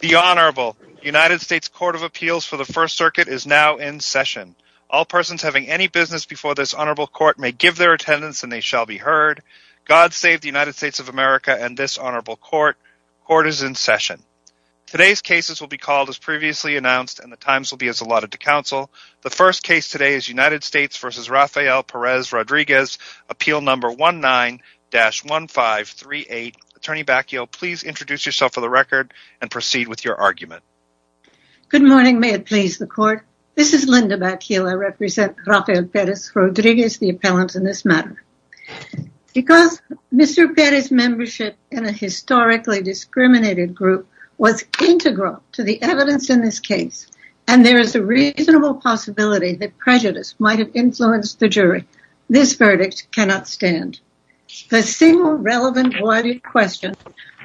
The Honorable United States Court of Appeals for the First Circuit is now in session. All persons having any business before this honorable court may give their attendance and they shall be heard. God save the United States of America and this honorable court. Court is in session. Today's cases will be called as previously announced and the times will be as allotted to counsel. The first case today is United States v. Rafael Perez-Rodriguez, appeal number 19-1538. Attorney Bakkeel, please introduce yourself for the record and proceed with your argument. Good morning, may it please the court. This is Linda Bakkeel. I represent Rafael Perez-Rodriguez, the appellant in this matter. Because Mr. Perez's membership in a historically discriminated group was integral to the evidence in this case and there is a reasonable possibility that prejudice might have influenced the jury, this verdict cannot stand. The single relevant question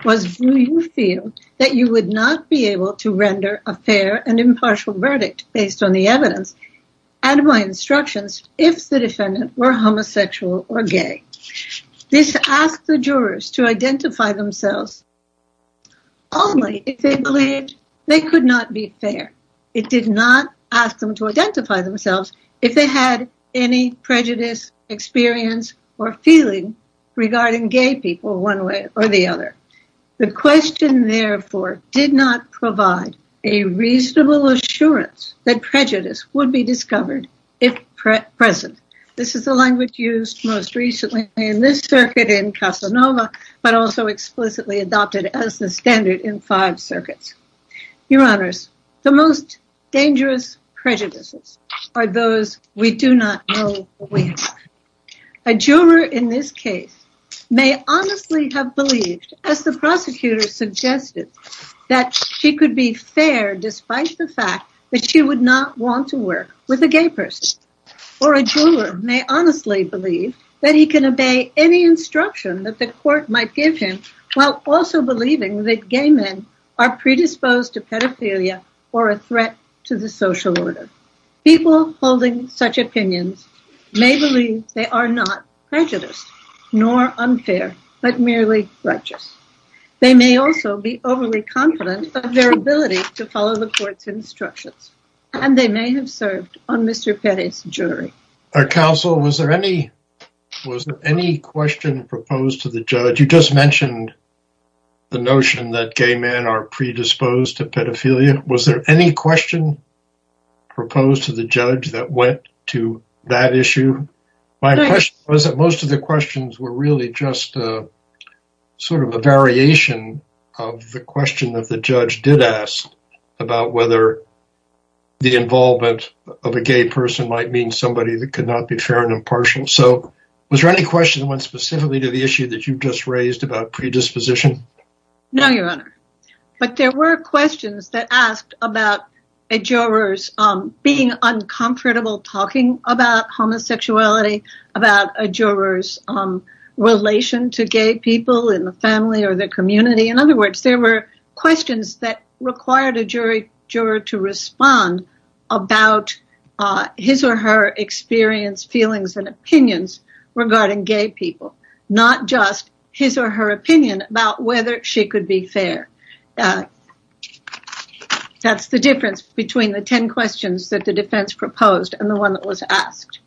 was do you feel that you would not be able to render a fair and impartial verdict based on the evidence and my instructions if the defendant were homosexual or gay. This asked the jurors to identify themselves only if they believed they could not be fair. It did not ask them to identify themselves if they had any prejudice experience or feeling regarding gay people one way or the other. The question therefore did not provide a reasonable assurance that prejudice would be discovered if present. This is the language used most recently in this circuit in Casanova, but also explicitly adopted as the standard in five circuits. Your honors, the most dangerous prejudices are those we do not know we have. A juror in this case may honestly have believed, as the prosecutor suggested, that she could be fair despite the fact that she would not want to work with a gay person. Or a juror may honestly believe that he can obey any instruction that the court might give him while also believing that gay men are predisposed to pedophilia or a threat to the social order. People holding such opinions may believe they are not prejudiced nor unfair, but merely righteous. They may also be overly confident of their ability to follow the court's instructions and they may have served on Mr. Petty's jury. Our counsel, was there any question proposed to the judge? You just mentioned the notion that gay men are predisposed to proposed to the judge that went to that issue. My question was that most of the questions were really just sort of a variation of the question that the judge did ask about whether the involvement of a gay person might mean somebody that could not be fair and impartial. So, was there any question that went specifically to the issue that you just raised about predisposition? No, Your Honor. But there were questions that asked about a juror's being uncomfortable talking about homosexuality, about a juror's relation to gay people in the family or the community. In other words, there were questions that required a jury juror to respond about his or her experience, feelings, and opinions regarding gay people, not just his or her opinion about whether she could be fair. That's the difference between the 10 questions that the defense proposed and the one that was asked.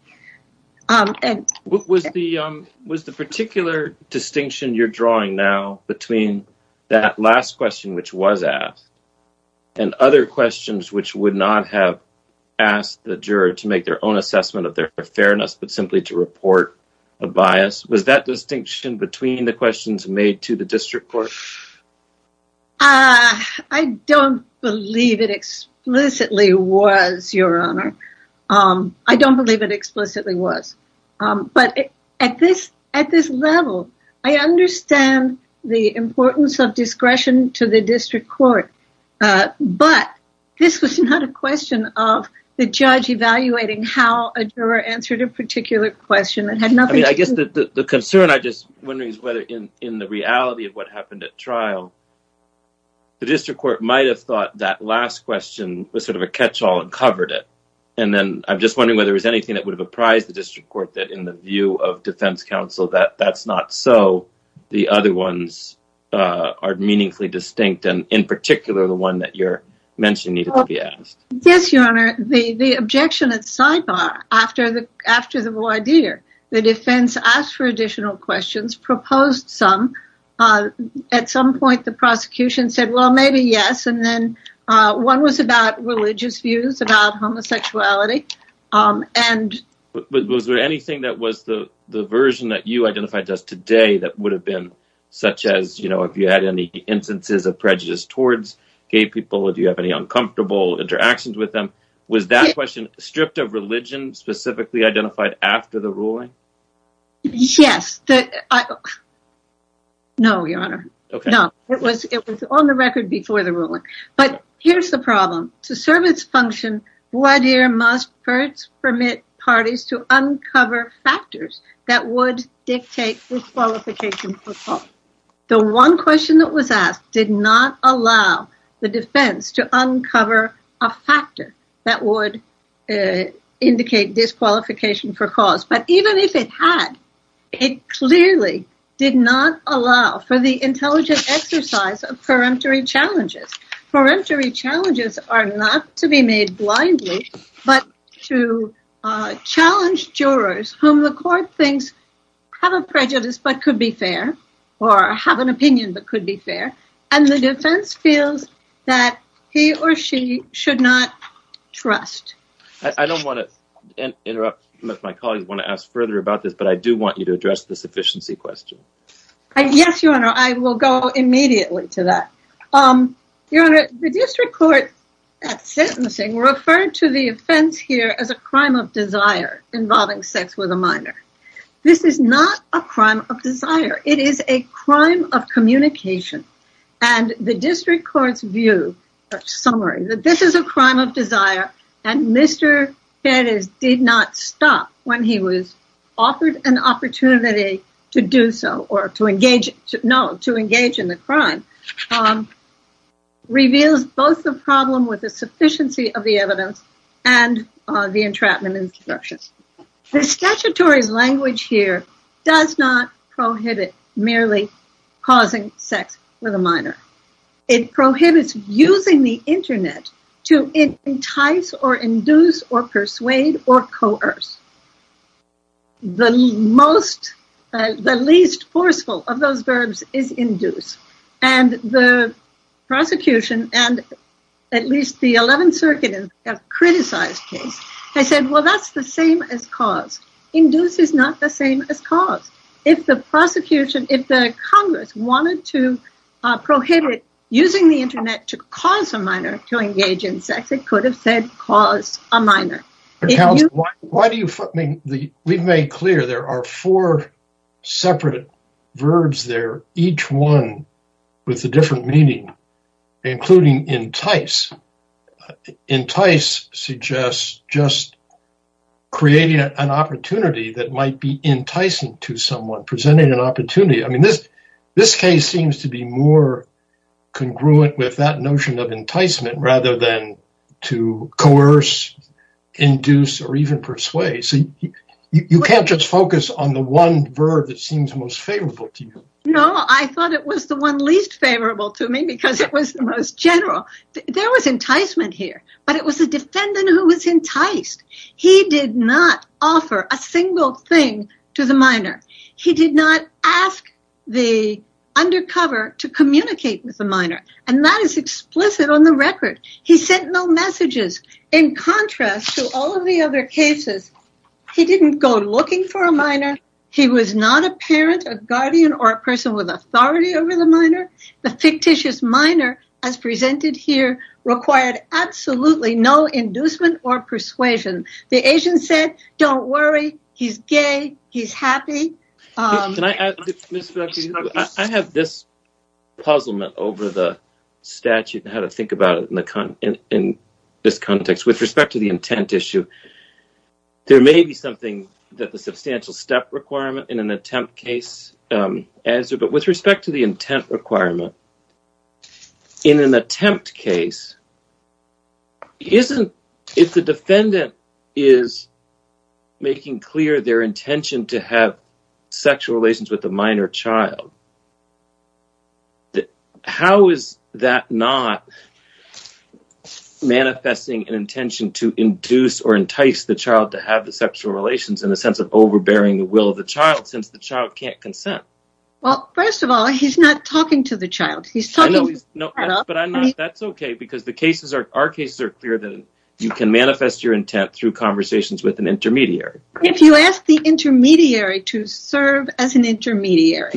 Was the particular distinction you're drawing now between that last question which was asked and other questions which would not have asked the juror to make their own but simply to report a bias? Was that distinction between the questions made to the district court? I don't believe it explicitly was, Your Honor. I don't believe it explicitly was. But at this level, I understand the importance of discretion to the district court, but this was not a question of the judge evaluating how a juror answered a particular question. I guess the concern I'm just wondering is whether in the reality of what happened at trial, the district court might have thought that last question was sort of a catch-all and covered it. And then I'm just wondering whether there was anything that would have apprised the district court that in the view of defense counsel that that's not so the other ones are meaningfully distinct and in particular the one that you're mentioning needed to be asked. Yes, Your Honor. The objection at sidebar after the voir dire, the defense asked for additional questions, proposed some. At some point, the prosecution said, well, maybe yes. And then one was about religious views about homosexuality. Was there anything that was the version that you identified just today that would have been such as, you know, if you had any instances of prejudice towards gay people? Do you have any uncomfortable interactions with them? Was that question stripped of religion specifically identified after the ruling? Yes. No, Your Honor. It was on the record before the ruling. But here's the problem. To serve its function, voir dire must first permit parties to uncover factors that would dictate disqualification. The one question that was asked did not allow the defense to uncover a factor that would indicate disqualification for cause. But even if it had, it clearly did not allow for the intelligent exercise of peremptory challenges. Peremptory challenges are not to be made blindly, but to challenge jurors whom the court thinks have a prejudice but could be fair or have an opinion that could be fair. And the defense feels that he or she should not trust. I don't want to interrupt. My colleagues want to ask further about this, but I do want you to address the sufficiency question. Yes, Your Honor. I will go immediately to that. Your Honor, the district court at sentencing referred to the offense here as a crime of desire involving sex with a minor. This is not a crime of desire. It is a crime of communication. And the district court's view or summary that this is a crime of desire and Mr. Perez did not stop when he was offered an opportunity to do so or to engage, no, to engage in the crime, reveals both the problem with the sufficiency of the evidence and the entrapment instructions. The statutory language here does not prohibit merely causing sex with a minor. It prohibits using the internet to entice or induce or persuade or coerce. The least forceful of those verbs is induce. And the prosecution and at least the 11th the same as cause. Induce is not the same as cause. If the prosecution, if the Congress wanted to prohibit using the internet to cause a minor to engage in sex, it could have said cause a minor. Why do you, I mean, we've made clear there are four separate verbs there, each one with a different meaning, including entice. Entice suggests just creating an opportunity that might be enticing to someone, presenting an opportunity. I mean, this case seems to be more congruent with that notion of enticement rather than to coerce, induce, or even persuade. So you can't just focus on the one verb that seems most favorable to you. No, I thought it was the one least favorable to me because it was the most general. There was enticement here, but it was the defendant who was enticed. He did not offer a single thing to the minor. He did not ask the undercover to communicate with the minor. And that is explicit on the record. He sent no messages. In contrast to all of the other cases, he didn't go looking for a minor. He was not a parent, a guardian, or a person with authority over the minor. The fictitious minor, as presented here, required absolutely no inducement or persuasion. The agent said, don't worry, he's gay, he's happy. I have this puzzlement over the statute and how to think about it in this context, with respect to the intent issue. There may be something that the substantial step requirement in an attempt case answered, but with respect to the intent requirement, in an attempt case, if the defendant is making clear their intention to have sexual relations with a minor child, how is that not manifesting an intention to induce or entice the child to have the sexual relations in the sense of overbearing the will of the child, since the child can't consent? Well, first of all, he's not talking to the child. He's talking to the child. But that's okay, because our cases are clear that you can manifest your intent through conversations with an intermediary. If you ask the intermediary to serve as an intermediary.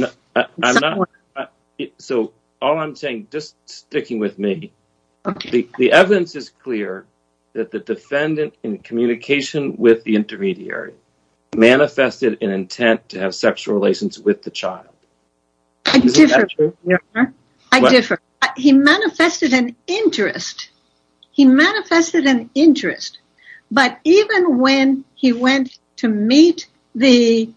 So, all I'm saying, just sticking with me, the evidence is clear that the defendant in communication with the intermediary manifested an intent to have sexual relations with the child. I differ. He manifested an interest. He manifested an interest. But even when he went to meet the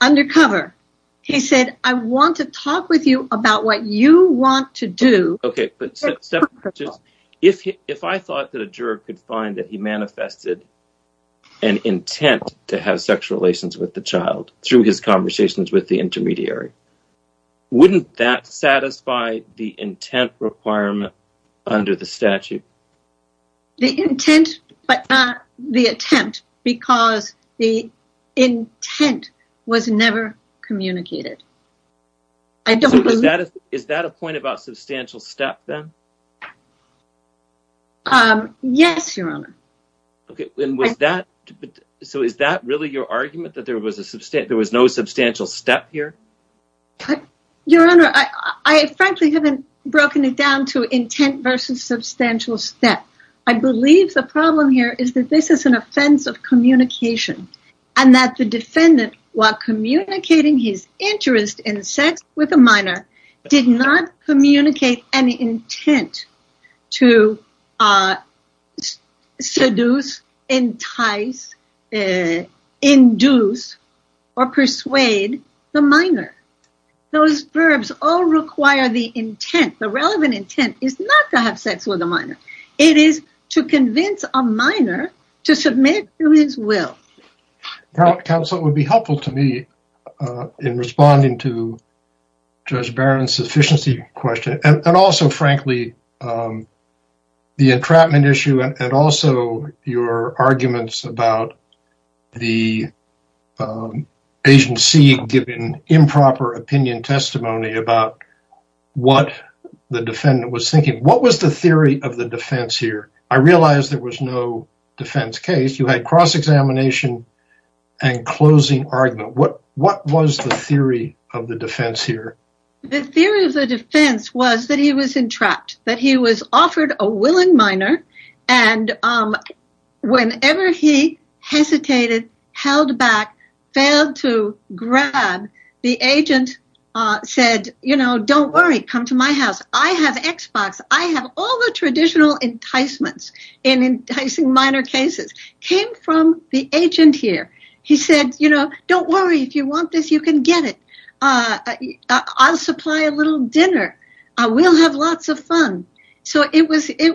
undercover, he said, I want to talk with you about what you want to do. Okay, but if I thought that a juror could find that he manifested an intent to have sexual relations with the child through his conversations with the intermediary, wouldn't that satisfy the intent requirement under the statute? The intent, but not the attempt, because the intent was never communicated. Is that a point about substantial step, then? Yes, Your Honor. So, is that really your argument, that there was no substantial step here? But, Your Honor, I frankly haven't broken it down to intent versus substantial step. I believe the problem here is that this is an offense of communication, and that the defendant, while communicating his interest in sex with a minor, did not communicate any intent to seduce, entice, induce, or persuade the minor. Those verbs all require the intent. The relevant intent is not to have sex with a minor. It is to convince a minor to submit to his will. Counsel, it would be helpful to me in responding to Judge Barron's sufficiency question, and also, frankly, the entrapment issue, and also your arguments about the agency giving improper opinion testimony about what the defendant was thinking. What was the theory of the defense here? I realize there was no defense case. You had cross-examination and closing argument. What was the theory of the defense here? The theory of the defense was that he was entrapped, that he was offered a willing minor, and whenever he hesitated, held back, failed to grab, the agent said, you know, don't worry. Come to my house. I have Xbox. I have all the traditional enticements in enticing minor cases. It came from the agent here. He said, you know, don't worry. If you want this, you can get it. I'll supply a little dinner. We'll have lots of fun. So, it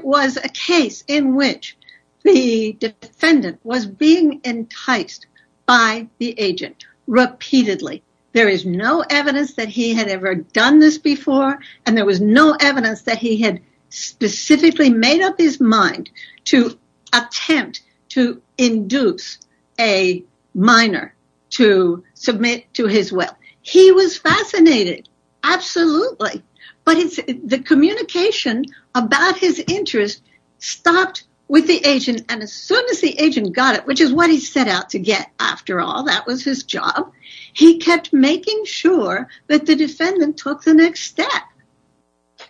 was a case in which the defendant was being enticed by the agent repeatedly. There is no evidence that he had ever done this before, and there was no evidence that he had specifically made up his mind to attempt to induce a minor to submit to his will. He was fascinated. Absolutely. But the communication about his interest stopped with the agent, and as soon as the agent got it, which is what he set out to get after all. That was his job. He kept making sure that the defendant took the step.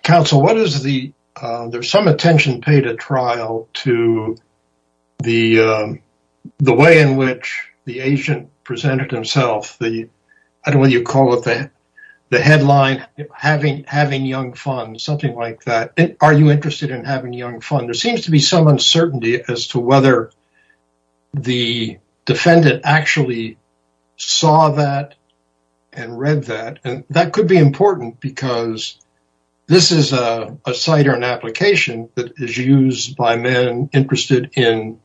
Counsel, there's some attention paid at trial to the way in which the agent presented himself. I don't know what you call it, the headline, having young fun, something like that. Are you interested in having young fun? There seems to be some uncertainty as to whether the defendant actually saw that and read that, and that could be important because this is a site or an application that is used by men interested in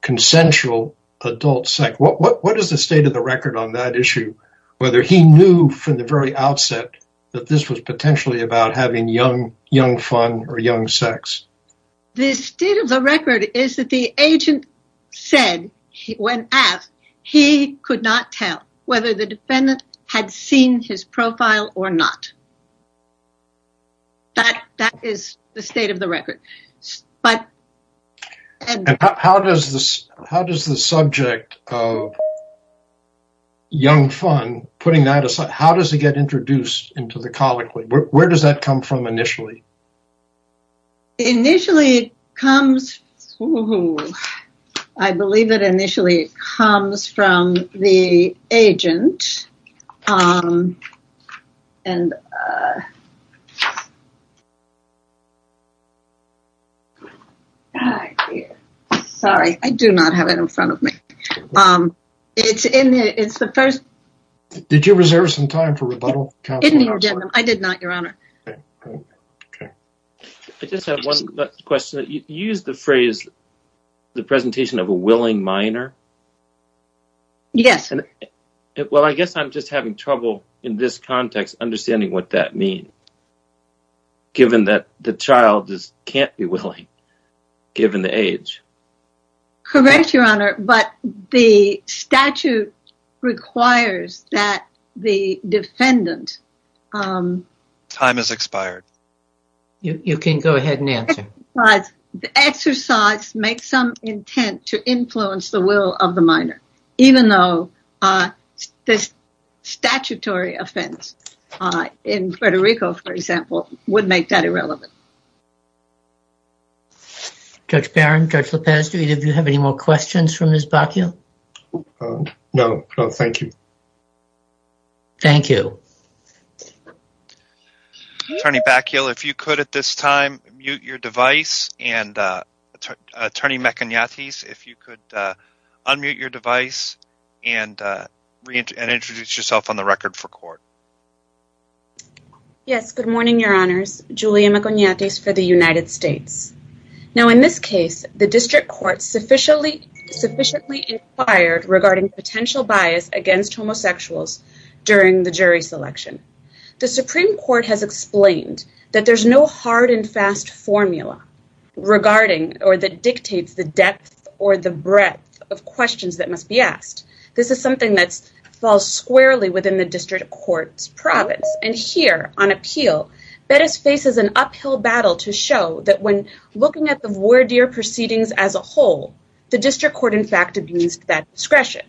consensual adult sex. What is the state of the record on that issue, whether he knew from the very outset that this was potentially about having young fun or young sex? The state of the record is that the agent said, when asked, he could not tell whether the defendant had seen his profile or not. That is the state of the record. How does the subject of young fun, putting that aside, does he get introduced into the colloquy? Where does that come from initially? Initially, I believe it initially comes from the agent. Did you reserve some time for rebuttal? I did not, Your Honor. I just have one question. You used the phrase, the presentation of a willing minor. Yes. Well, I guess I am just having trouble in this context understanding what that means, given that the child cannot be willing, given the age. Correct, Your Honor, but the statute requires that the defendant... Time has expired. You can go ahead and answer. The exercise makes some intent to influence the will of the minor, even though this statutory offense in Puerto Rico, for example, would make that irrelevant. Judge Barron, Judge Lopez, do either of you have any more questions from Ms. Bakkeel? No. No, thank you. Thank you. Attorney Bakkeel, if you could, at this time, mute your device, and Attorney Maconiatis, if you could unmute your device and reintroduce yourself on the record for court. Yes. Good morning, Your Honors. Julia Maconiatis for the United States. Now, in this case, the district court sufficiently inquired regarding potential bias against homosexuals during the jury selection. The Supreme Court has explained that there's no hard and fast formula regarding or that dictates the depth or the breadth of questions that must be asked. This is something that falls squarely within the district court's province. And here, on appeal, Bettis faces an uphill battle to show that when looking at the voir dire proceedings as discretion.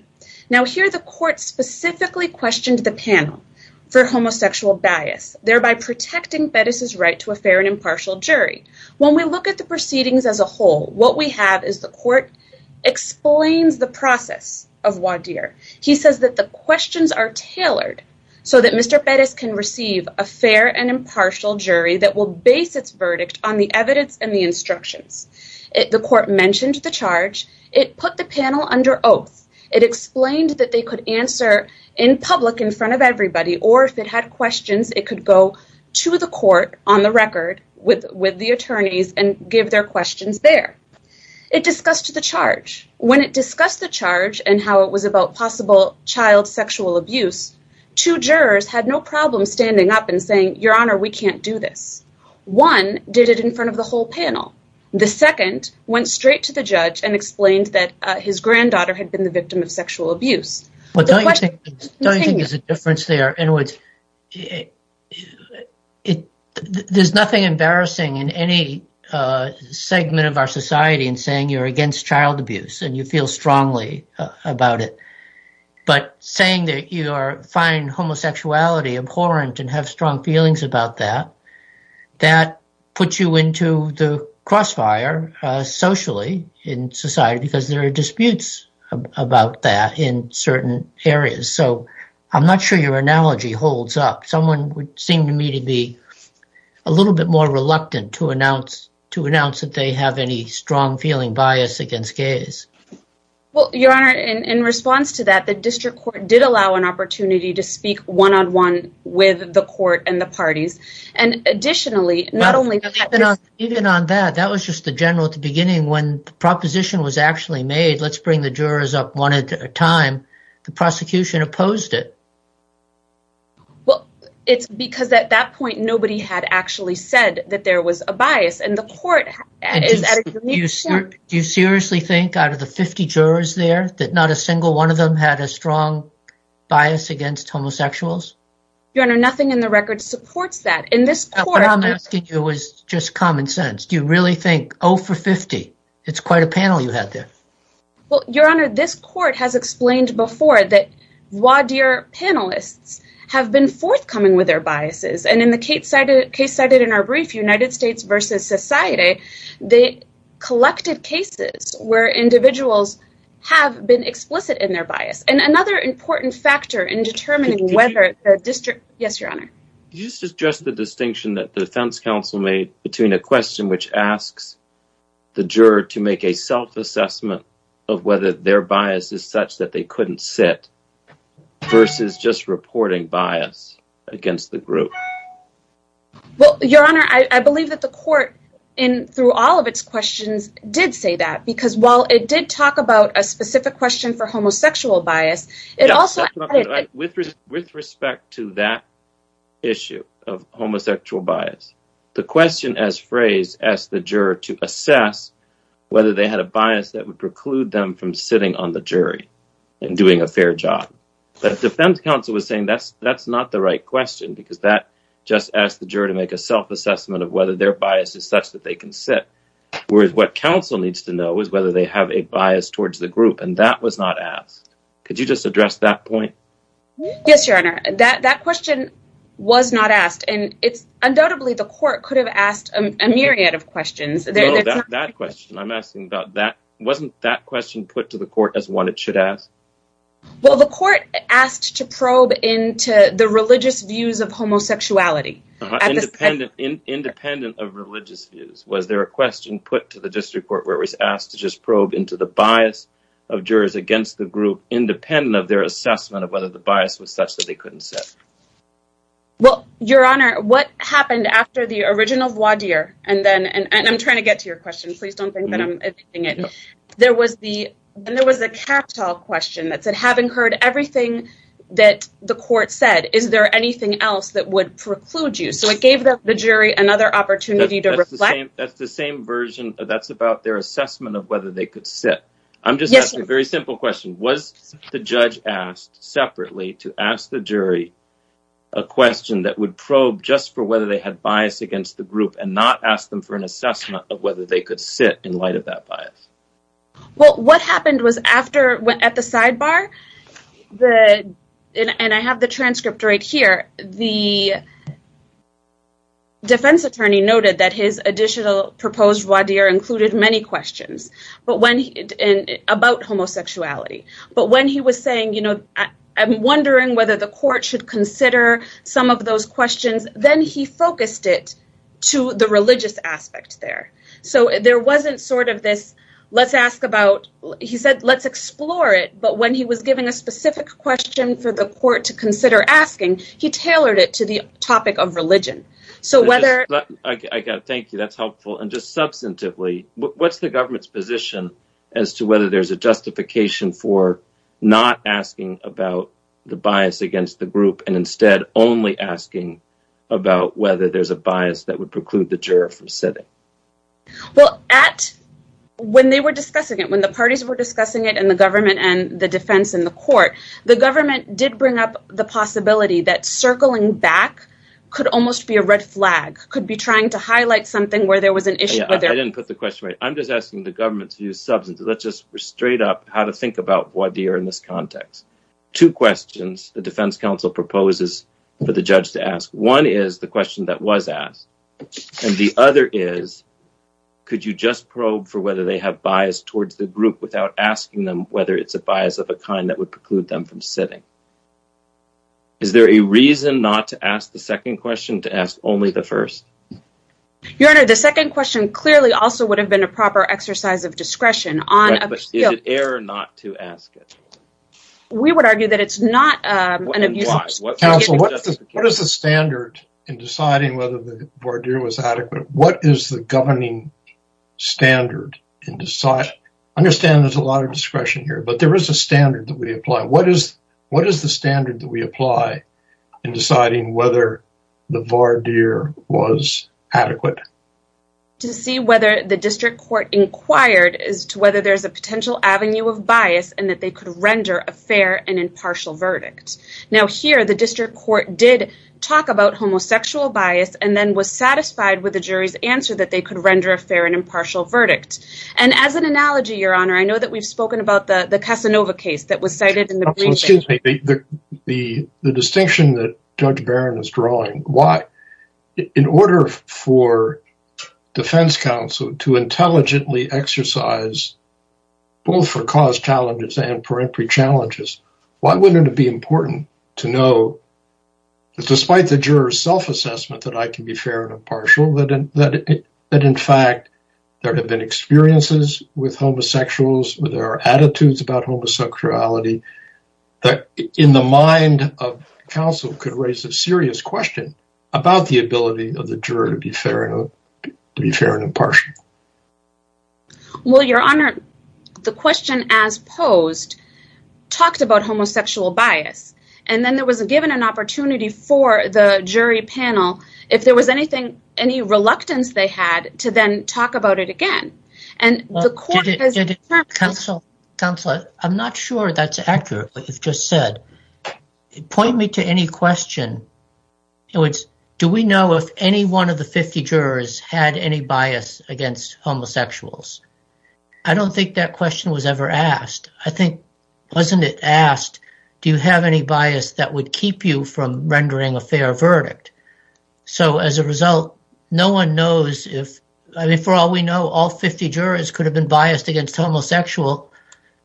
Now, here, the court specifically questioned the panel for homosexual bias, thereby protecting Bettis' right to a fair and impartial jury. When we look at the proceedings as a whole, what we have is the court explains the process of voir dire. He says that the questions are tailored so that Mr. Bettis can receive a fair and impartial jury that will base its verdict on the evidence and the instructions. The court mentioned the charge. It put the panel under oath. It explained that they could answer in public in front of everybody, or if it had questions, it could go to the court on the record with the attorneys and give their questions there. It discussed the charge. When it discussed the charge and how it was about possible child sexual abuse, two jurors had no problem standing up and saying, Your Honor, we can't do this. One did it in front of the whole panel. The second went straight to the judge and explained that his granddaughter had been the victim of sexual abuse. Don't you think there's a difference there in which there's nothing embarrassing in any segment of our society in saying you're against child abuse and you feel strongly about it. But saying that you find homosexuality abhorrent and have strong feelings about that, that puts you into the crossfire socially in society because there are disputes about that in certain areas. So I'm not sure your analogy holds up. Someone would seem to me to be a little bit more reluctant to announce that they have any strong feeling bias against gays. Well, Your Honor, in response to that, the district court did allow an opportunity to speak one on one with the court and the parties. Even on that, that was just the general at the beginning when the proposition was actually made, let's bring the jurors up one at a time. The prosecution opposed it. Well, it's because at that point, nobody had actually said that there was a bias and the court is at a unique point. Do you seriously think out of the 50 jurors there that not a single one of them had a strong bias against homosexuals? Your Honor, nothing in the record supports that. What I'm asking you is just common sense. Do you really think, oh, for 50, it's quite a panel you had there? Well, Your Honor, this court has explained before that voir dire panelists have been forthcoming with their biases. And in the case cited in our brief, United States vs. Society, they collected cases where individuals have been explicit in their bias. And another important factor in determining whether the district... Yes, Your Honor. Did you suggest the distinction that the defense counsel made between a question which asks the juror to make a self-assessment of whether their bias is such that they couldn't sit versus just reporting bias against the group? Well, Your Honor, I believe that the court in through all of its questions did say that because while it did talk about a specific question for homosexual bias, it also... With respect to that issue of homosexual bias, the question as phrased asked the juror to assess whether they had a bias that would preclude them from sitting on the jury and doing a fair job. But the defense counsel was saying that's not the right question because that just asked the juror to make a self-assessment of whether their bias is such that they can sit, whereas what counsel needs to know is whether they have a bias towards the group. And that was not asked. Could you just address that point? Yes, Your Honor. That question was not asked. And it's... Undoubtedly, the court could have asked a myriad of questions. That question, I'm asking about that. Wasn't that question put to the court as one it should ask? Well, the court asked to probe into the religious views of homosexuality. Independent of religious views, was there a question put to the district court where it was asked to just probe into the bias of jurors against the group independent of their assessment of whether the bias was such that they couldn't sit? Well, Your Honor, what happened after the trial? I'm trying to get to your question. Please don't think that I'm editing it. There was a capital question that said, having heard everything that the court said, is there anything else that would preclude you? So it gave the jury another opportunity to reflect. That's the same version. That's about their assessment of whether they could sit. I'm just asking a very simple question. Was the judge asked separately to ask the jury a question that would probe just for whether they had bias against the group and not ask them for an assessment of whether they could sit in light of that bias? Well, what happened was after, at the sidebar, and I have the transcript right here, the defense attorney noted that his additional proposed voir dire included many questions about homosexuality. But when he was saying, you know, I'm wondering whether the court should consider some of those questions, then he focused it to the religious aspect there. So there wasn't sort of this, let's ask about, he said, let's explore it. But when he was giving a specific question for the court to consider asking, he tailored it to the topic of religion. So whether I got, thank you, that's helpful. And just substantively, what's the government's position as to whether there's a justification for not asking about the bias against the group and instead only asking about whether there's a bias that would preclude the juror from sitting? Well, at, when they were discussing it, when the parties were discussing it and the government and the defense and the court, the government did bring up the possibility that circling back could almost be a red flag, could be trying to highlight something where there was an issue. Yeah, I didn't put the question right. I'm just asking the government to use substance. Let's just straight up how to think about what they are in this context. Two questions the defense council proposes for the judge to ask. One is the question that was asked and the other is, could you just probe for whether they have bias towards the group without asking them whether it's a bias of a kind that would preclude them from sitting? Is there a reason not to ask the second question to ask only the first? Your Honor, the second question clearly also would have been a proper exercise of discretion on appeal. Is it error not to ask it? We would argue that it's not an abuse. What is the standard in deciding whether the voir dire was adequate? What is the governing standard in deciding? I understand there's a lot of discretion here, but there is a standard that we apply. What is the standard that we apply in deciding whether the voir dire was adequate? To see whether the district court inquired as to whether there's a potential avenue of bias and that they could render a fair and impartial verdict. Now here, the district court did talk about homosexual bias and then was satisfied with the jury's answer that they could render a fair and impartial verdict. And as an analogy, Your Honor, I know that we've spoken about the Casanova case that was cited in the briefing. Excuse me. The distinction that Judge Barron is drawing. In order for defense counsel to intelligently exercise both for cause challenges and peremptory challenges, why wouldn't it be important to know that despite the juror's self-assessment that I can be fair and impartial, that in fact there have been experiences with about the ability of the juror to be fair and impartial? Well, Your Honor, the question as posed talked about homosexual bias. And then there was given an opportunity for the jury panel, if there was anything, any reluctance they had to then talk about it again. And the court has... Counselor, I'm not sure that's accurate, what you've just said. Point me to any question. Do we know if any one of the 50 jurors had any bias against homosexuals? I don't think that question was ever asked. I think, wasn't it asked, do you have any bias that would keep you from rendering a fair verdict? So as a result, no one knows if... I mean, for all we know, all 50 jurors could have been biased against homosexual,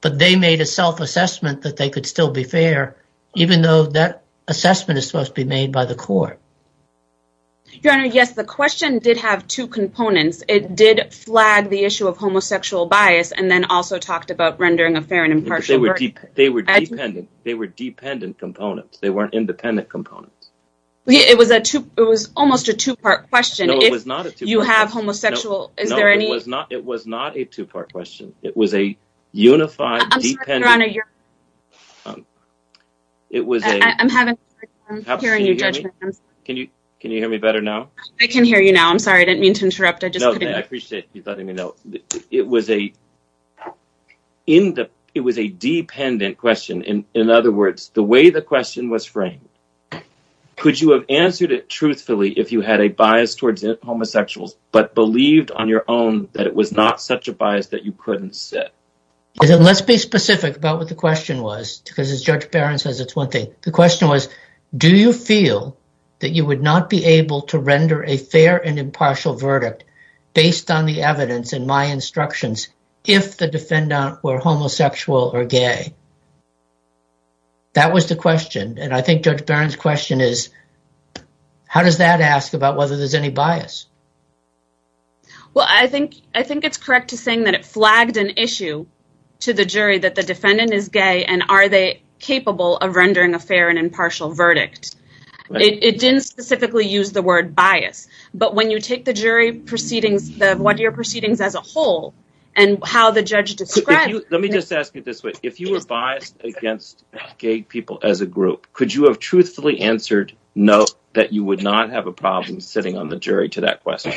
but they made a self-assessment that they could still be fair, even though that assessment is supposed to be made by the court. Your Honor, yes, the question did have two components. It did flag the issue of homosexual bias and then also talked about rendering a fair and impartial verdict. They were dependent, they were dependent components, they weren't independent components. It was almost a two-part question. No, it was not a two-part question. If you have homosexual... No, it was not a two-part question. It was a unified, dependent... I'm sorry, Your Honor, you're... It was a... I'm having a hard time hearing your judgment. Can you hear me better now? I can hear you now. I'm sorry, I didn't mean to interrupt. I just couldn't... No, I appreciate you letting me know. It was a dependent question. In other words, the way the question was framed, could you have answered it truthfully if you had a bias towards homosexuals, but believed on your own that it was not such a bias that you couldn't sit? Let's be specific about what the question was because as Judge Barron says, it's one thing. The question was, do you feel that you would not be able to render a fair and impartial verdict based on the evidence and my instructions if the defendant were homosexual or gay? That was the question, and I think Judge Barron's question is, how does that ask about whether there's any bias? Well, I think it's correct to say that it flagged an issue to the jury that the defendant is gay, and are they capable of rendering a fair and impartial verdict? It didn't specifically use the word bias, but when you take the jury proceedings, the one-year proceedings as a whole, and how the judge described... Let me just ask you this way. If you were truthfully answered no, that you would not have a problem sitting on the jury to that question?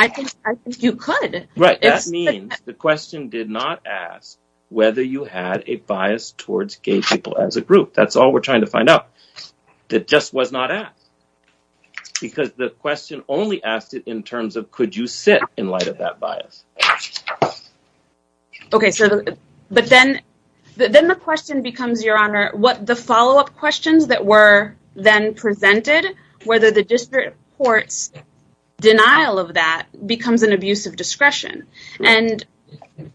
I think you could. Right. That means the question did not ask whether you had a bias towards gay people as a group. That's all we're trying to find out. It just was not asked because the question only asked it in terms of, could you sit in light of that bias? Okay. But then the question becomes, Your Honor, what the follow-up questions that were then presented, whether the district court's denial of that becomes an abuse of discretion. And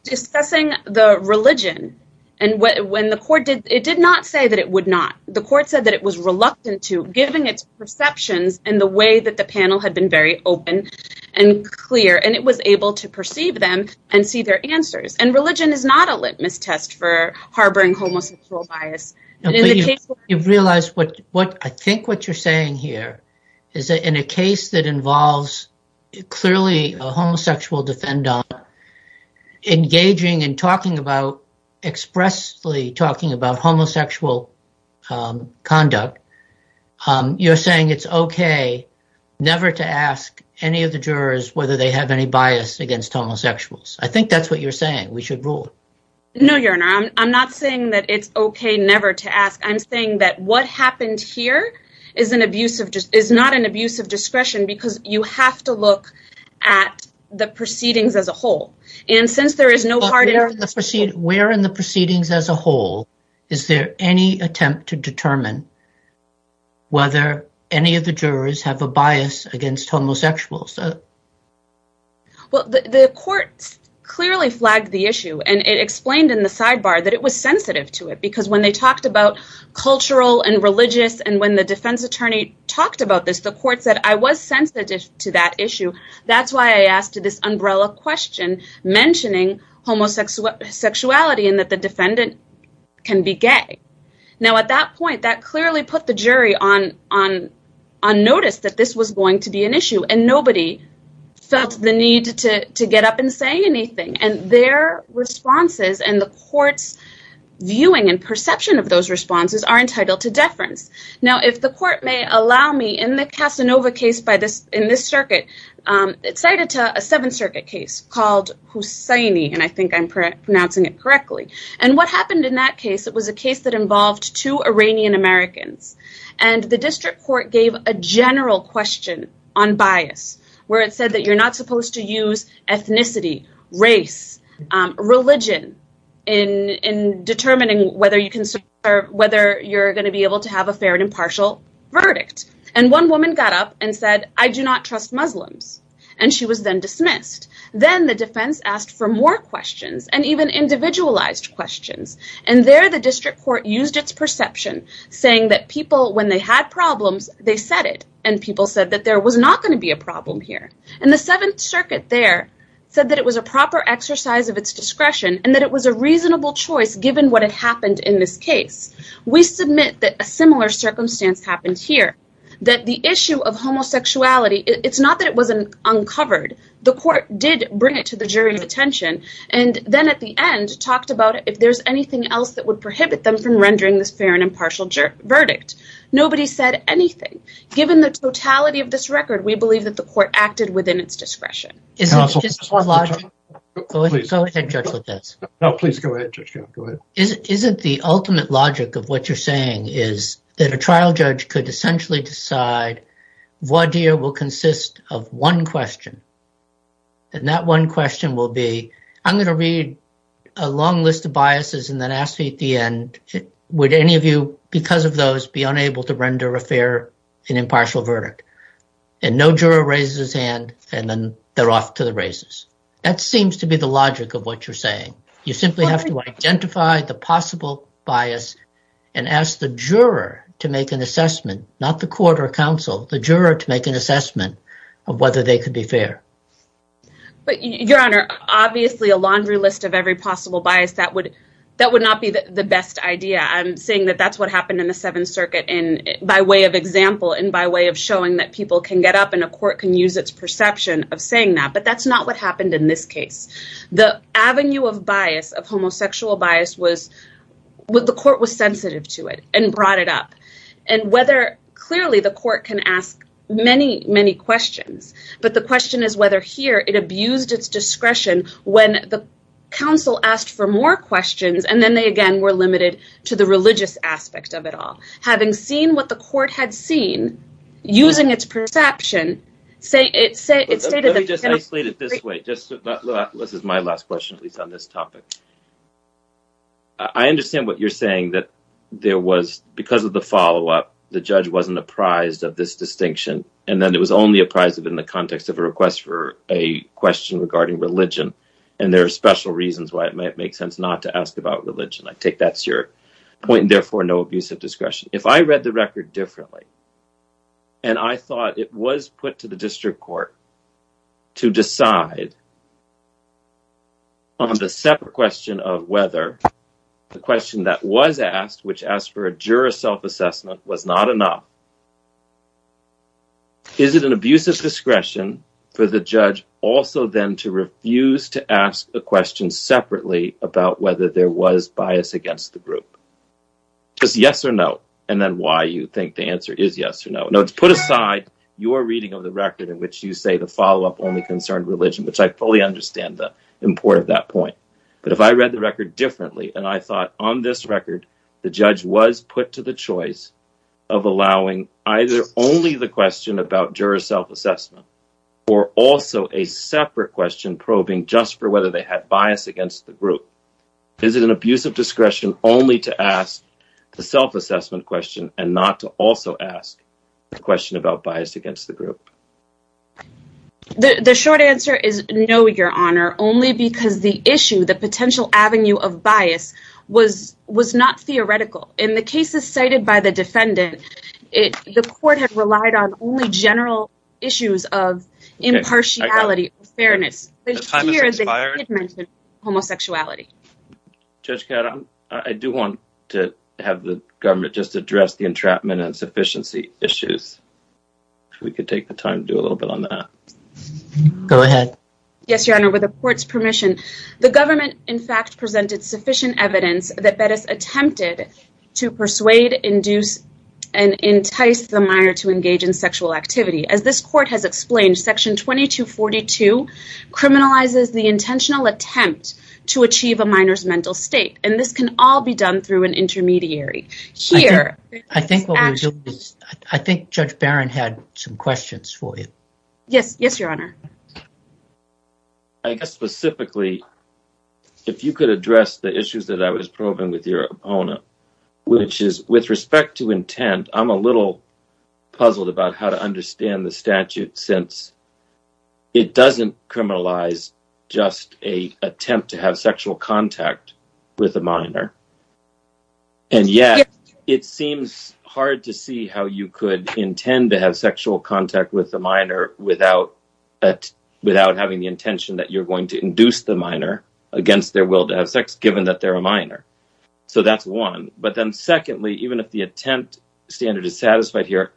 discussing the religion, and when the court did... It did not say that it would not. The court said that it was reluctant to, given its perceptions and the way that the panel had been very open and clear, and it was able to perceive them and see their answers. And religion is not a litmus test for harboring homosexual bias. You've realized what I think what you're saying here is that in a case that involves clearly a homosexual defendant engaging and talking about, homosexual conduct, you're saying it's okay never to ask any of the jurors whether they have any bias against homosexuals. I think that's what you're saying. We should rule. No, Your Honor. I'm not saying that it's okay never to ask. I'm saying that what happened here is not an abuse of discretion because you have to look at the proceedings as a whole. And since there is no Where in the proceedings as a whole is there any attempt to determine whether any of the jurors have a bias against homosexuals? Well, the court clearly flagged the issue, and it explained in the sidebar that it was sensitive to it because when they talked about cultural and religious, and when the defense attorney talked about this, the court said, I was sensitive to that issue. That's why I asked this umbrella question mentioning homosexuality and that the defendant can be gay. Now, at that point, that clearly put the jury on notice that this was going to be an issue, and nobody felt the need to get up and say anything. And their responses and the court's viewing and perception of those responses are entitled to deference. Now, if the court may allow me, in the Casanova case in this case called Hussaini, and I think I'm pronouncing it correctly. And what happened in that case, it was a case that involved two Iranian Americans. And the district court gave a general question on bias, where it said that you're not supposed to use ethnicity, race, religion, in determining whether you can serve, whether you're going to be able to have a fair and impartial verdict. And one woman got up and said, I do not trust Muslims. And she was then dismissed. Then the defense asked for more questions and even individualized questions. And there the district court used its perception, saying that people, when they had problems, they said it. And people said that there was not going to be a problem here. And the Seventh Circuit there said that it was a proper exercise of its discretion and that it was a reasonable choice given what had happened in this case. We submit that a similar circumstance happened here, that the issue of homosexuality, it's not that it wasn't uncovered. The court did bring it to the jury's attention. And then at the end, talked about if there's anything else that would prohibit them from rendering this fair and impartial verdict. Nobody said anything. Given the totality of this record, we believe that the court acted within its discretion. Is it the ultimate logic of what you're saying is that a trial judge could essentially decide voir dire will consist of one question. And that one question will be, I'm going to read a long list of biases and then ask me at the end, would any of you because of those be unable to offer to the races? That seems to be the logic of what you're saying. You simply have to identify the possible bias and ask the juror to make an assessment, not the court or counsel, the juror to make an assessment of whether they could be fair. But your honor, obviously a laundry list of every possible bias that would that would not be the best idea. I'm saying that that's what happened in the Seventh Circuit. And by way of example, and by way of showing that people can get up and a court can use its perception of saying that. But that's not what happened in this case. The avenue of bias of homosexual bias was what the court was sensitive to it and brought it up and whether clearly the court can ask many, many questions. But the question is whether here it abused its discretion when the council asked for more questions. And then they again were limited to the religious aspect of it all. Having seen what the court had seen, using its perception, say it say it stated. Let me just isolate it this way. This is my last question, at least on this topic. I understand what you're saying that there was because of the follow up, the judge wasn't apprised of this distinction. And then it was only apprised of in the context of a request for a question regarding religion. And there are special reasons why it might make sense not to discretion. If I read the record differently, and I thought it was put to the district court to decide on the separate question of whether the question that was asked, which asked for a juror self-assessment was not enough. Is it an abuse of discretion for the judge also then to refuse to ask a question separately about whether there was bias against the group? Just yes or no. And then why you think the answer is yes or no. No, it's put aside your reading of the record in which you say the follow up only concerned religion, which I fully understand the importance of that point. But if I read the record differently, and I thought on this record, the judge was put to the choice of allowing either only the question about juror self-assessment, or also a separate question probing just for whether they had bias against the group. Is it an abuse of discretion only to ask the self-assessment question and not to also ask the question about bias against the group? The short answer is no, your honor, only because the issue, the potential avenue of bias was not theoretical. In the cases cited by the defendant, the court had relied on only general issues of impartiality, fairness. And homosexuality. Judge, I do want to have the government just address the entrapment and sufficiency issues. If we could take the time to do a little bit on that. Go ahead. Yes, your honor, with the court's permission, the government in fact presented sufficient evidence that Bettis attempted to persuade, induce, and entice the minor to engage in sexual activity. As this court has to achieve a minor's mental state. And this can all be done through an intermediary. I think Judge Barron had some questions for you. Yes, yes, your honor. I guess specifically, if you could address the issues that I was probing with your opponent, which is with respect to intent, I'm a little puzzled about how to understand the statute since it doesn't criminalize just an attempt to have sexual contact with a minor. And yet, it seems hard to see how you could intend to have sexual contact with a minor without having the intention that you're going to induce the minor against their will to have sex, given that they're a minor. So that's one. But then secondly, even if the attempt standard is satisfied here,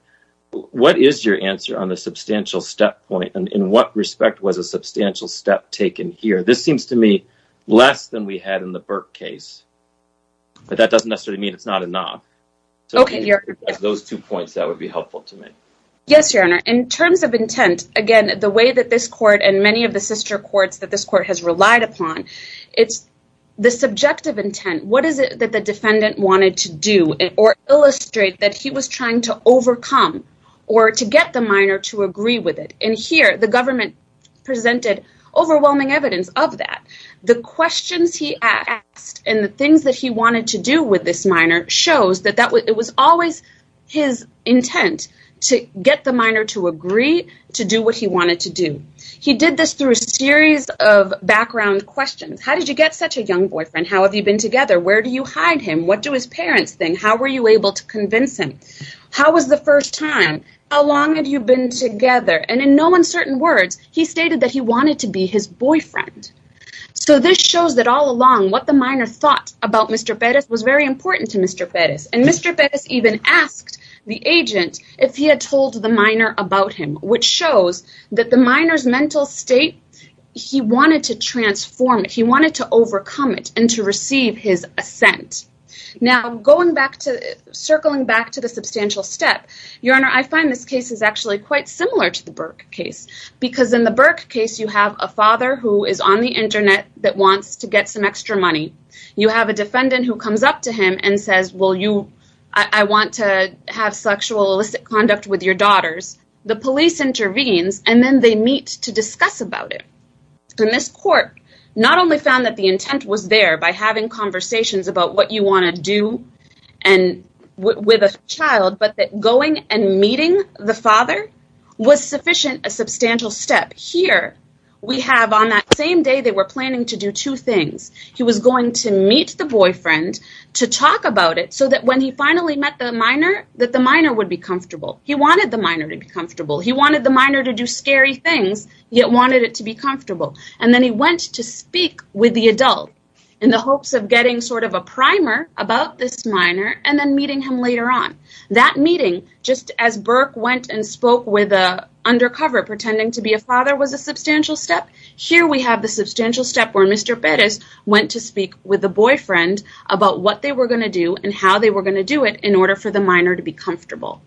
what is your answer on the substantial step point? And in what respect was a substantial step taken here? This seems to me less than we had in the Burke case. But that doesn't necessarily mean it's not enough. So those two points that would be helpful to me. Yes, your honor. In terms of intent, again, the way that this court and many of the sister courts that this court has relied upon, it's the subjective intent. What is it that the defendant wanted to do or illustrate that he was trying to overcome or to get the minor to agree with it? And here, the government presented overwhelming evidence of that. The questions he asked and the things that he wanted to do with this minor shows that it was always his intent to get the minor to agree to do what he wanted to do. He did this through a series of background questions. How did you get such a young boyfriend? How have you been together? Where do you hide him? What do his parents think? How were you able to convince him? How was the first time? How long have you been together? And in no uncertain words, he stated that he wanted to be his boyfriend. So this shows that all along what the minor thought about Mr. Perez was very important to Mr. Perez. And Mr. Perez even asked the agent if he had told the minor about him, which shows that the minor's mental state, he wanted to transform it. He wanted to overcome it and to receive his assent. Now, circling back to the substantial step, Your Honor, I find this case is actually quite similar to the Burke case because in the Burke case, you have a father who is on the internet that wants to get some extra money. You have a defendant who comes up to him and says, well, I want to have sexual illicit conduct with your that the intent was there by having conversations about what you want to do and with a child, but that going and meeting the father was sufficient, a substantial step. Here, we have on that same day, they were planning to do two things. He was going to meet the boyfriend to talk about it so that when he finally met the minor, that the minor would be comfortable. He wanted the minor to be comfortable. He wanted the minor to do scary things, yet wanted it to comfortable. Then, he went to speak with the adult in the hopes of getting a primer about this minor and then meeting him later on. That meeting, just as Burke went and spoke with an undercover pretending to be a father, was a substantial step. Here, we have the substantial step where Mr. Perez went to speak with the boyfriend about what they were going to do and how they were going to do it in order for the minor to be comfortable.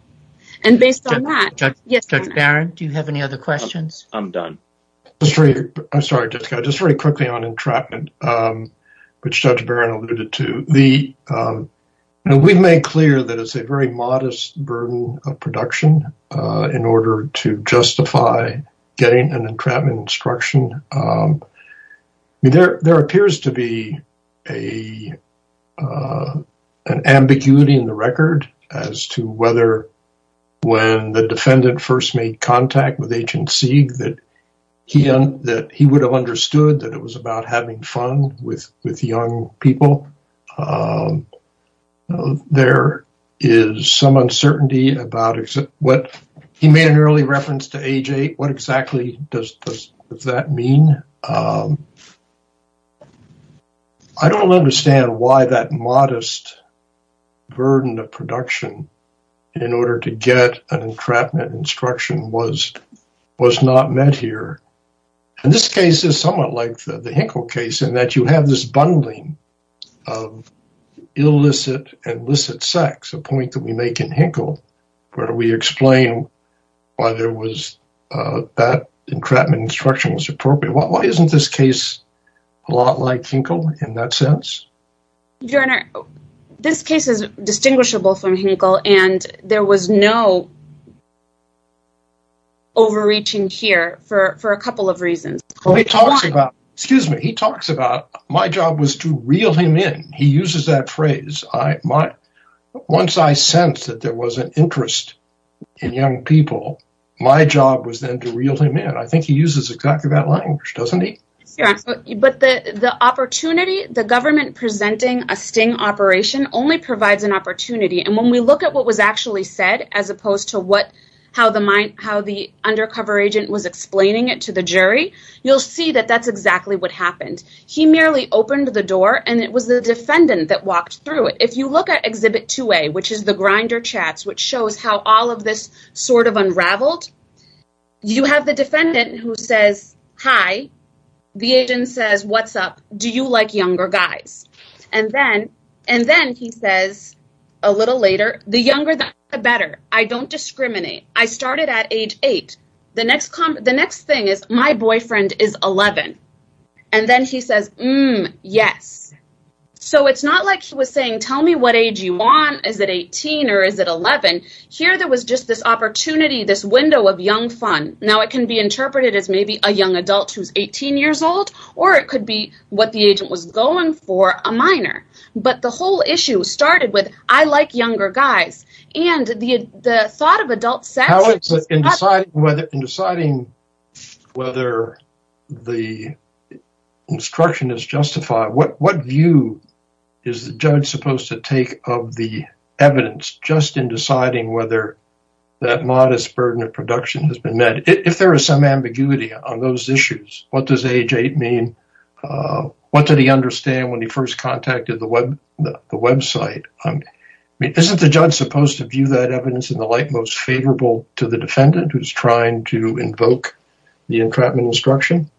Based on that- Judge Barron, do you have any other questions? I'm done. I'm sorry, just very quickly on entrapment, which Judge Barron alluded to. We've made clear that it's a very modest burden of production in order to justify getting an entrapment instruction. There appears to be an ambiguity in the record as to whether when the defendant first made contact with Agent Sieg that he would have understood that it was about having fun with young people. He made an early reference to age eight. What exactly does that mean? I don't understand why that modest burden of production in order to get an entrapment instruction was not met here. This case is somewhat like the Hinkle case in that you have this bundling of illicit and licit sex, a point that we make in Hinkle, where we explain why that entrapment instruction was appropriate. Why isn't this case a lot like Hinkle in that sense? Your Honor, this case is distinguishable from Hinkle, and there was no overreaching here for a couple of reasons. He talks about, my job was to reel him in. He uses that phrase. Once I sensed that there was an interest in young people, my job was then to reel him in. I think he uses exactly that language, doesn't he? But the opportunity, the government presenting a sting operation only provides an opportunity. And when we look at what was actually said, as opposed to how the undercover agent was explaining it to the jury, you'll see that that's exactly what happened. He merely opened the door, and it was the defendant that walked through it. If you look at Exhibit 2A, which is the grinder chats, which shows how all of this sort of unraveled, you have the defendant who says, hi. The agent says, what's up? Do you like younger guys? And then he says, a little later, the younger, the better. I don't discriminate. I started at age eight. The next thing is, my boyfriend is 11. And then he says, yes. So it's not like he was saying, tell me what age you want. Is it 18 or is it 11? Here, there was just this opportunity, this window of young fun. Now, it can be interpreted as maybe a young adult who's 18 years old, or it could be what the agent was going for, a minor. But the whole issue started with, I like younger guys. And the thought of adult sex- In deciding whether the instruction is justified, what view is the judge supposed to take of the evidence just in deciding whether that modest burden of production has been met? If there is some ambiguity on those issues, what does age eight mean? What did he understand when he first contacted the website? Isn't the judge supposed to view that evidence in the light most favorable to the defendant who's trying to invoke the entrapment instruction?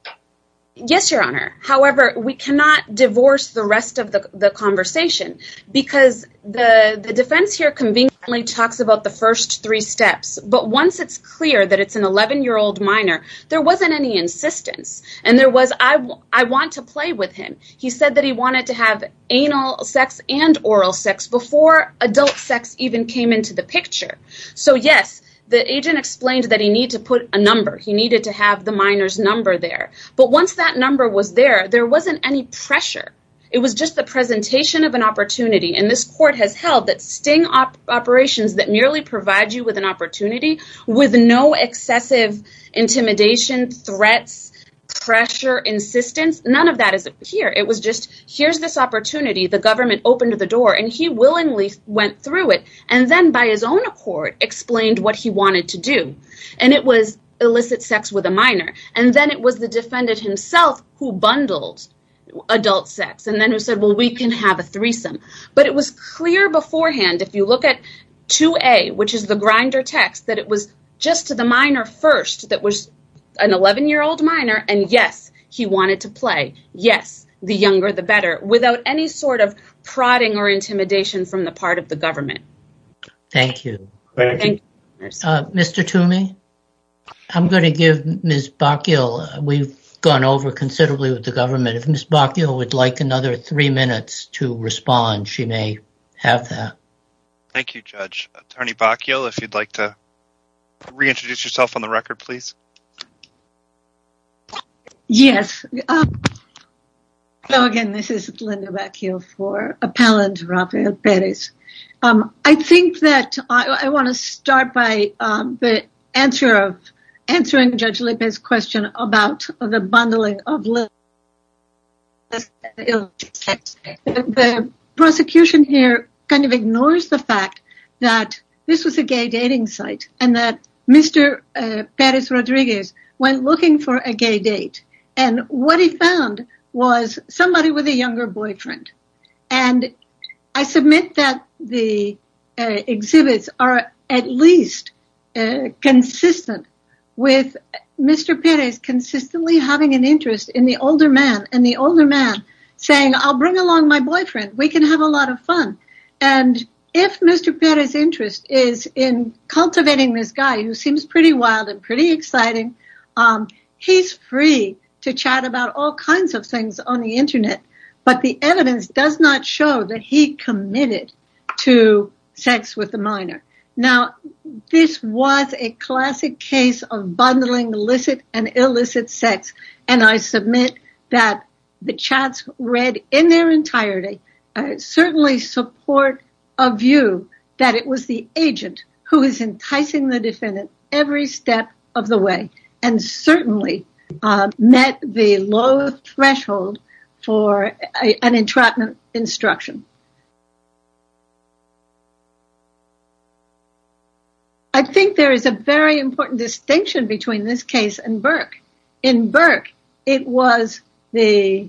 Yes, Your Honor. However, we cannot divorce the rest of the conversation because the defense here conveniently talks about the first three steps. But once it's clear that it's an 11-year-old minor, there wasn't any insistence. And there was, I want to play with him. He said that he wanted to have anal sex and oral sex before adult sex even came into the picture. So yes, the agent explained that he needed to put a number. He needed to have the minor's number there. But once that number was there, there wasn't any pressure. It was just the presentation of an opportunity. And this court has held that sting operations that merely provide you with an opportunity with no excessive intimidation, threats, pressure, insistence, none of that is here. It was just, here's this opportunity. The government opened the door and he willingly went through it and then by his own accord explained what he wanted to do. And it was illicit sex with a minor. And then it was the defendant himself who bundled adult sex and then said, well, we can have a threesome. But it was clear beforehand, if you look at 2A, which is the grinder text, that it was just to the minor first that was an 11-year-old minor. And yes, he wanted to play. Yes, the younger, the better, without any sort of prodding or intimidation from the part of the government. Thank you. Mr. Toomey, I'm going to give Ms. Bockill, we've gone over considerably with the government. If Ms. Bockill would like another three minutes to respond, she may have that. Thank you, Judge. Attorney Bockill, if you'd like to reintroduce yourself on the record, please. Yes. Hello again, this is Linda Bockill for Appellant Rafael Perez. I think that I want to The prosecution here kind of ignores the fact that this was a gay dating site and that Mr. Perez Rodriguez went looking for a gay date. And what he found was somebody with a younger boyfriend. And I submit that the exhibits are at least consistent with Mr. Perez consistently having an interest in the older man and the older man saying, I'll bring along my boyfriend, we can have a lot of fun. And if Mr. Perez's interest is in cultivating this guy who seems pretty wild and pretty exciting, he's free to chat about all kinds of things on the internet. But the evidence does not show that he committed to sex with the minor. Now, this was a classic case of bundling illicit and illicit sex. And I submit that the chats read in their entirety, certainly support a view that it was the agent who is enticing the defendant every step of the way, and certainly met the low threshold for an entrapment instruction. I think there is a very important distinction between this case and Burke. In Burke, it was the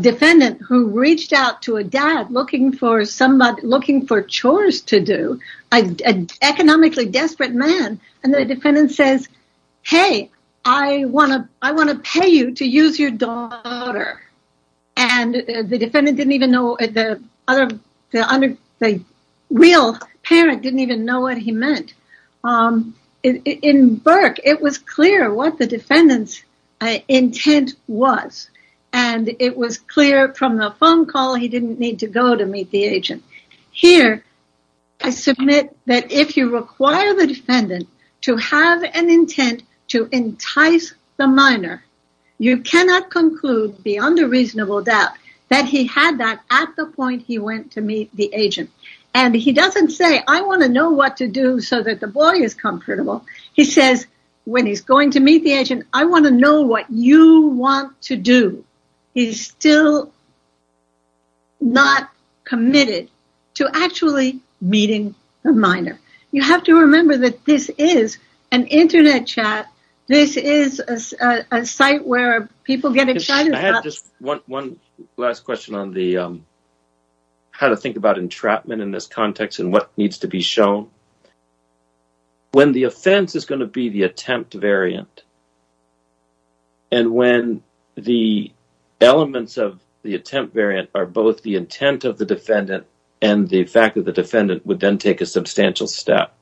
defendant who reached out to a dad looking for somebody looking for chores to do. An economically desperate man. And the defendant says, hey, I want to, I want to pay you to use your daughter. And the defendant didn't even know, the real parent didn't even know what he meant. In Burke, it was clear what the defendant's intent was. And it was clear from the phone call, he didn't need to go to meet the agent. Here, I submit that if you require the defendant to have an intent to entice the minor, you cannot conclude beyond a reasonable doubt that he had that at the point he went to meet the agent. And he doesn't say, I want to know what to do so that the boy is comfortable. He says, when he's going to meet the agent, I want to know what you want to do. He's still not committed to actually meeting the minor. You have to remember that this is an internet chat. This is a site where people get excited. I had just one last question on the, how to think about entrapment in this context and what needs to be shown. When the offense is going to be the attempt variant. And when the elements of the attempt variant are both the intent of the defendant and the fact that the defendant would then take a substantial step.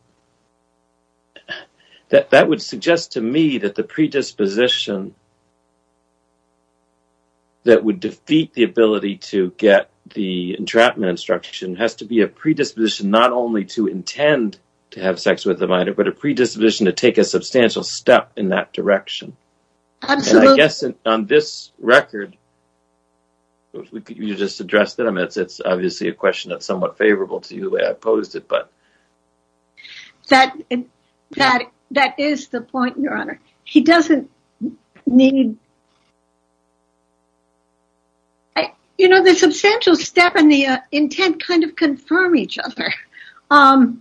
That would suggest to me that the predisposition that would defeat the ability to get the entrapment instruction has to be a predisposition, not only to intend to have sex with the minor, but a predisposition to take a substantial step in that direction. And I guess on this record, you just addressed them. It's obviously a question that's somewhat favorable to you the way I posed it. That is the point, Your Honor. The substantial step and the intent kind of confirm each other. I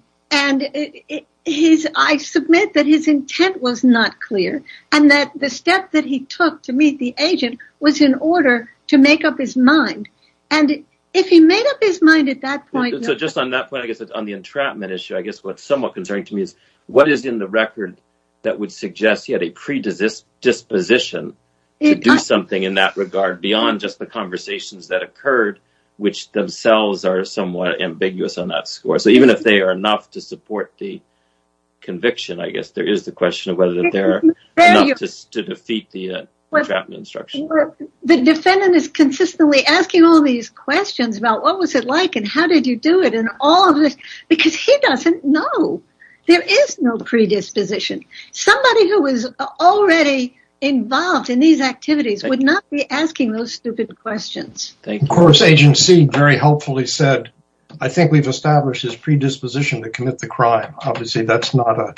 submit that his intent was not clear and that the step that he took to meet the agent was in order to make up his mind. And if he made up his mind at that point. So just on that point, I guess on the entrapment issue, I guess what's somewhat concerning to me is what is in the record that would suggest he had a predisposition to do something in that regard beyond just the conversations that occurred, which themselves are somewhat ambiguous on that score. So even if they are enough to support the conviction, I guess there is the question of whether they're to defeat the entrapment instruction. The defendant is consistently asking all these questions about what was it like and how did you do it and all of this, because he doesn't know. There is no predisposition. Somebody who is already involved in these activities would not be asking those stupid questions. Of course, Agent C very helpfully said, I think we've established his predisposition to commit the crime. Obviously that's not a,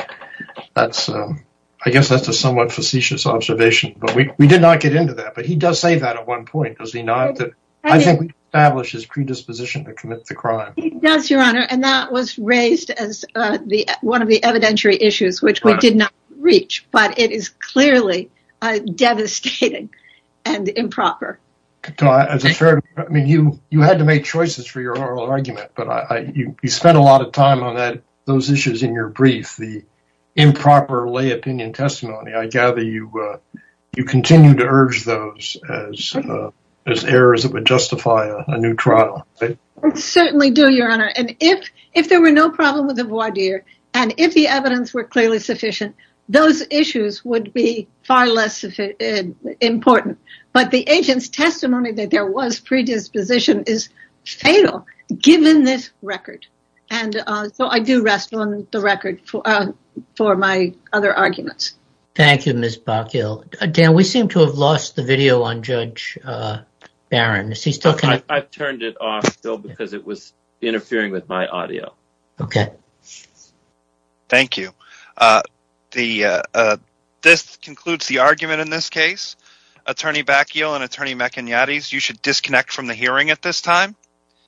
I guess that's a somewhat facetious observation, but we did not get into that, but he does say that at one point, does he not? I think we've established his predisposition to commit the crime. He does, Your Honor. And that was raised as one of the evidentiary issues, which we did not reach, but it is clearly devastating and improper. I mean, you had to make choices for your oral argument, but you spent a lot of time on those issues in your brief, the improper lay opinion testimony. I gather you continue to urge those as errors that would justify a new trial. Certainly do, Your Honor. And if there were no problem with the voir dire, and if the evidence were clearly sufficient, those issues would be far less important. But the agent's testimony that there was predisposition is fatal, given this record. And so I do rest on the record for my other arguments. Thank you, Ms. Bacchial. Dan, we seem to have lost the video on Judge Barron. I've turned it off, Bill, because it was interfering with my audio. Okay. Thank you. This concludes the argument in this case. Attorney Bacchial and Attorney McIgnatis, you should disconnect from the hearing at this time.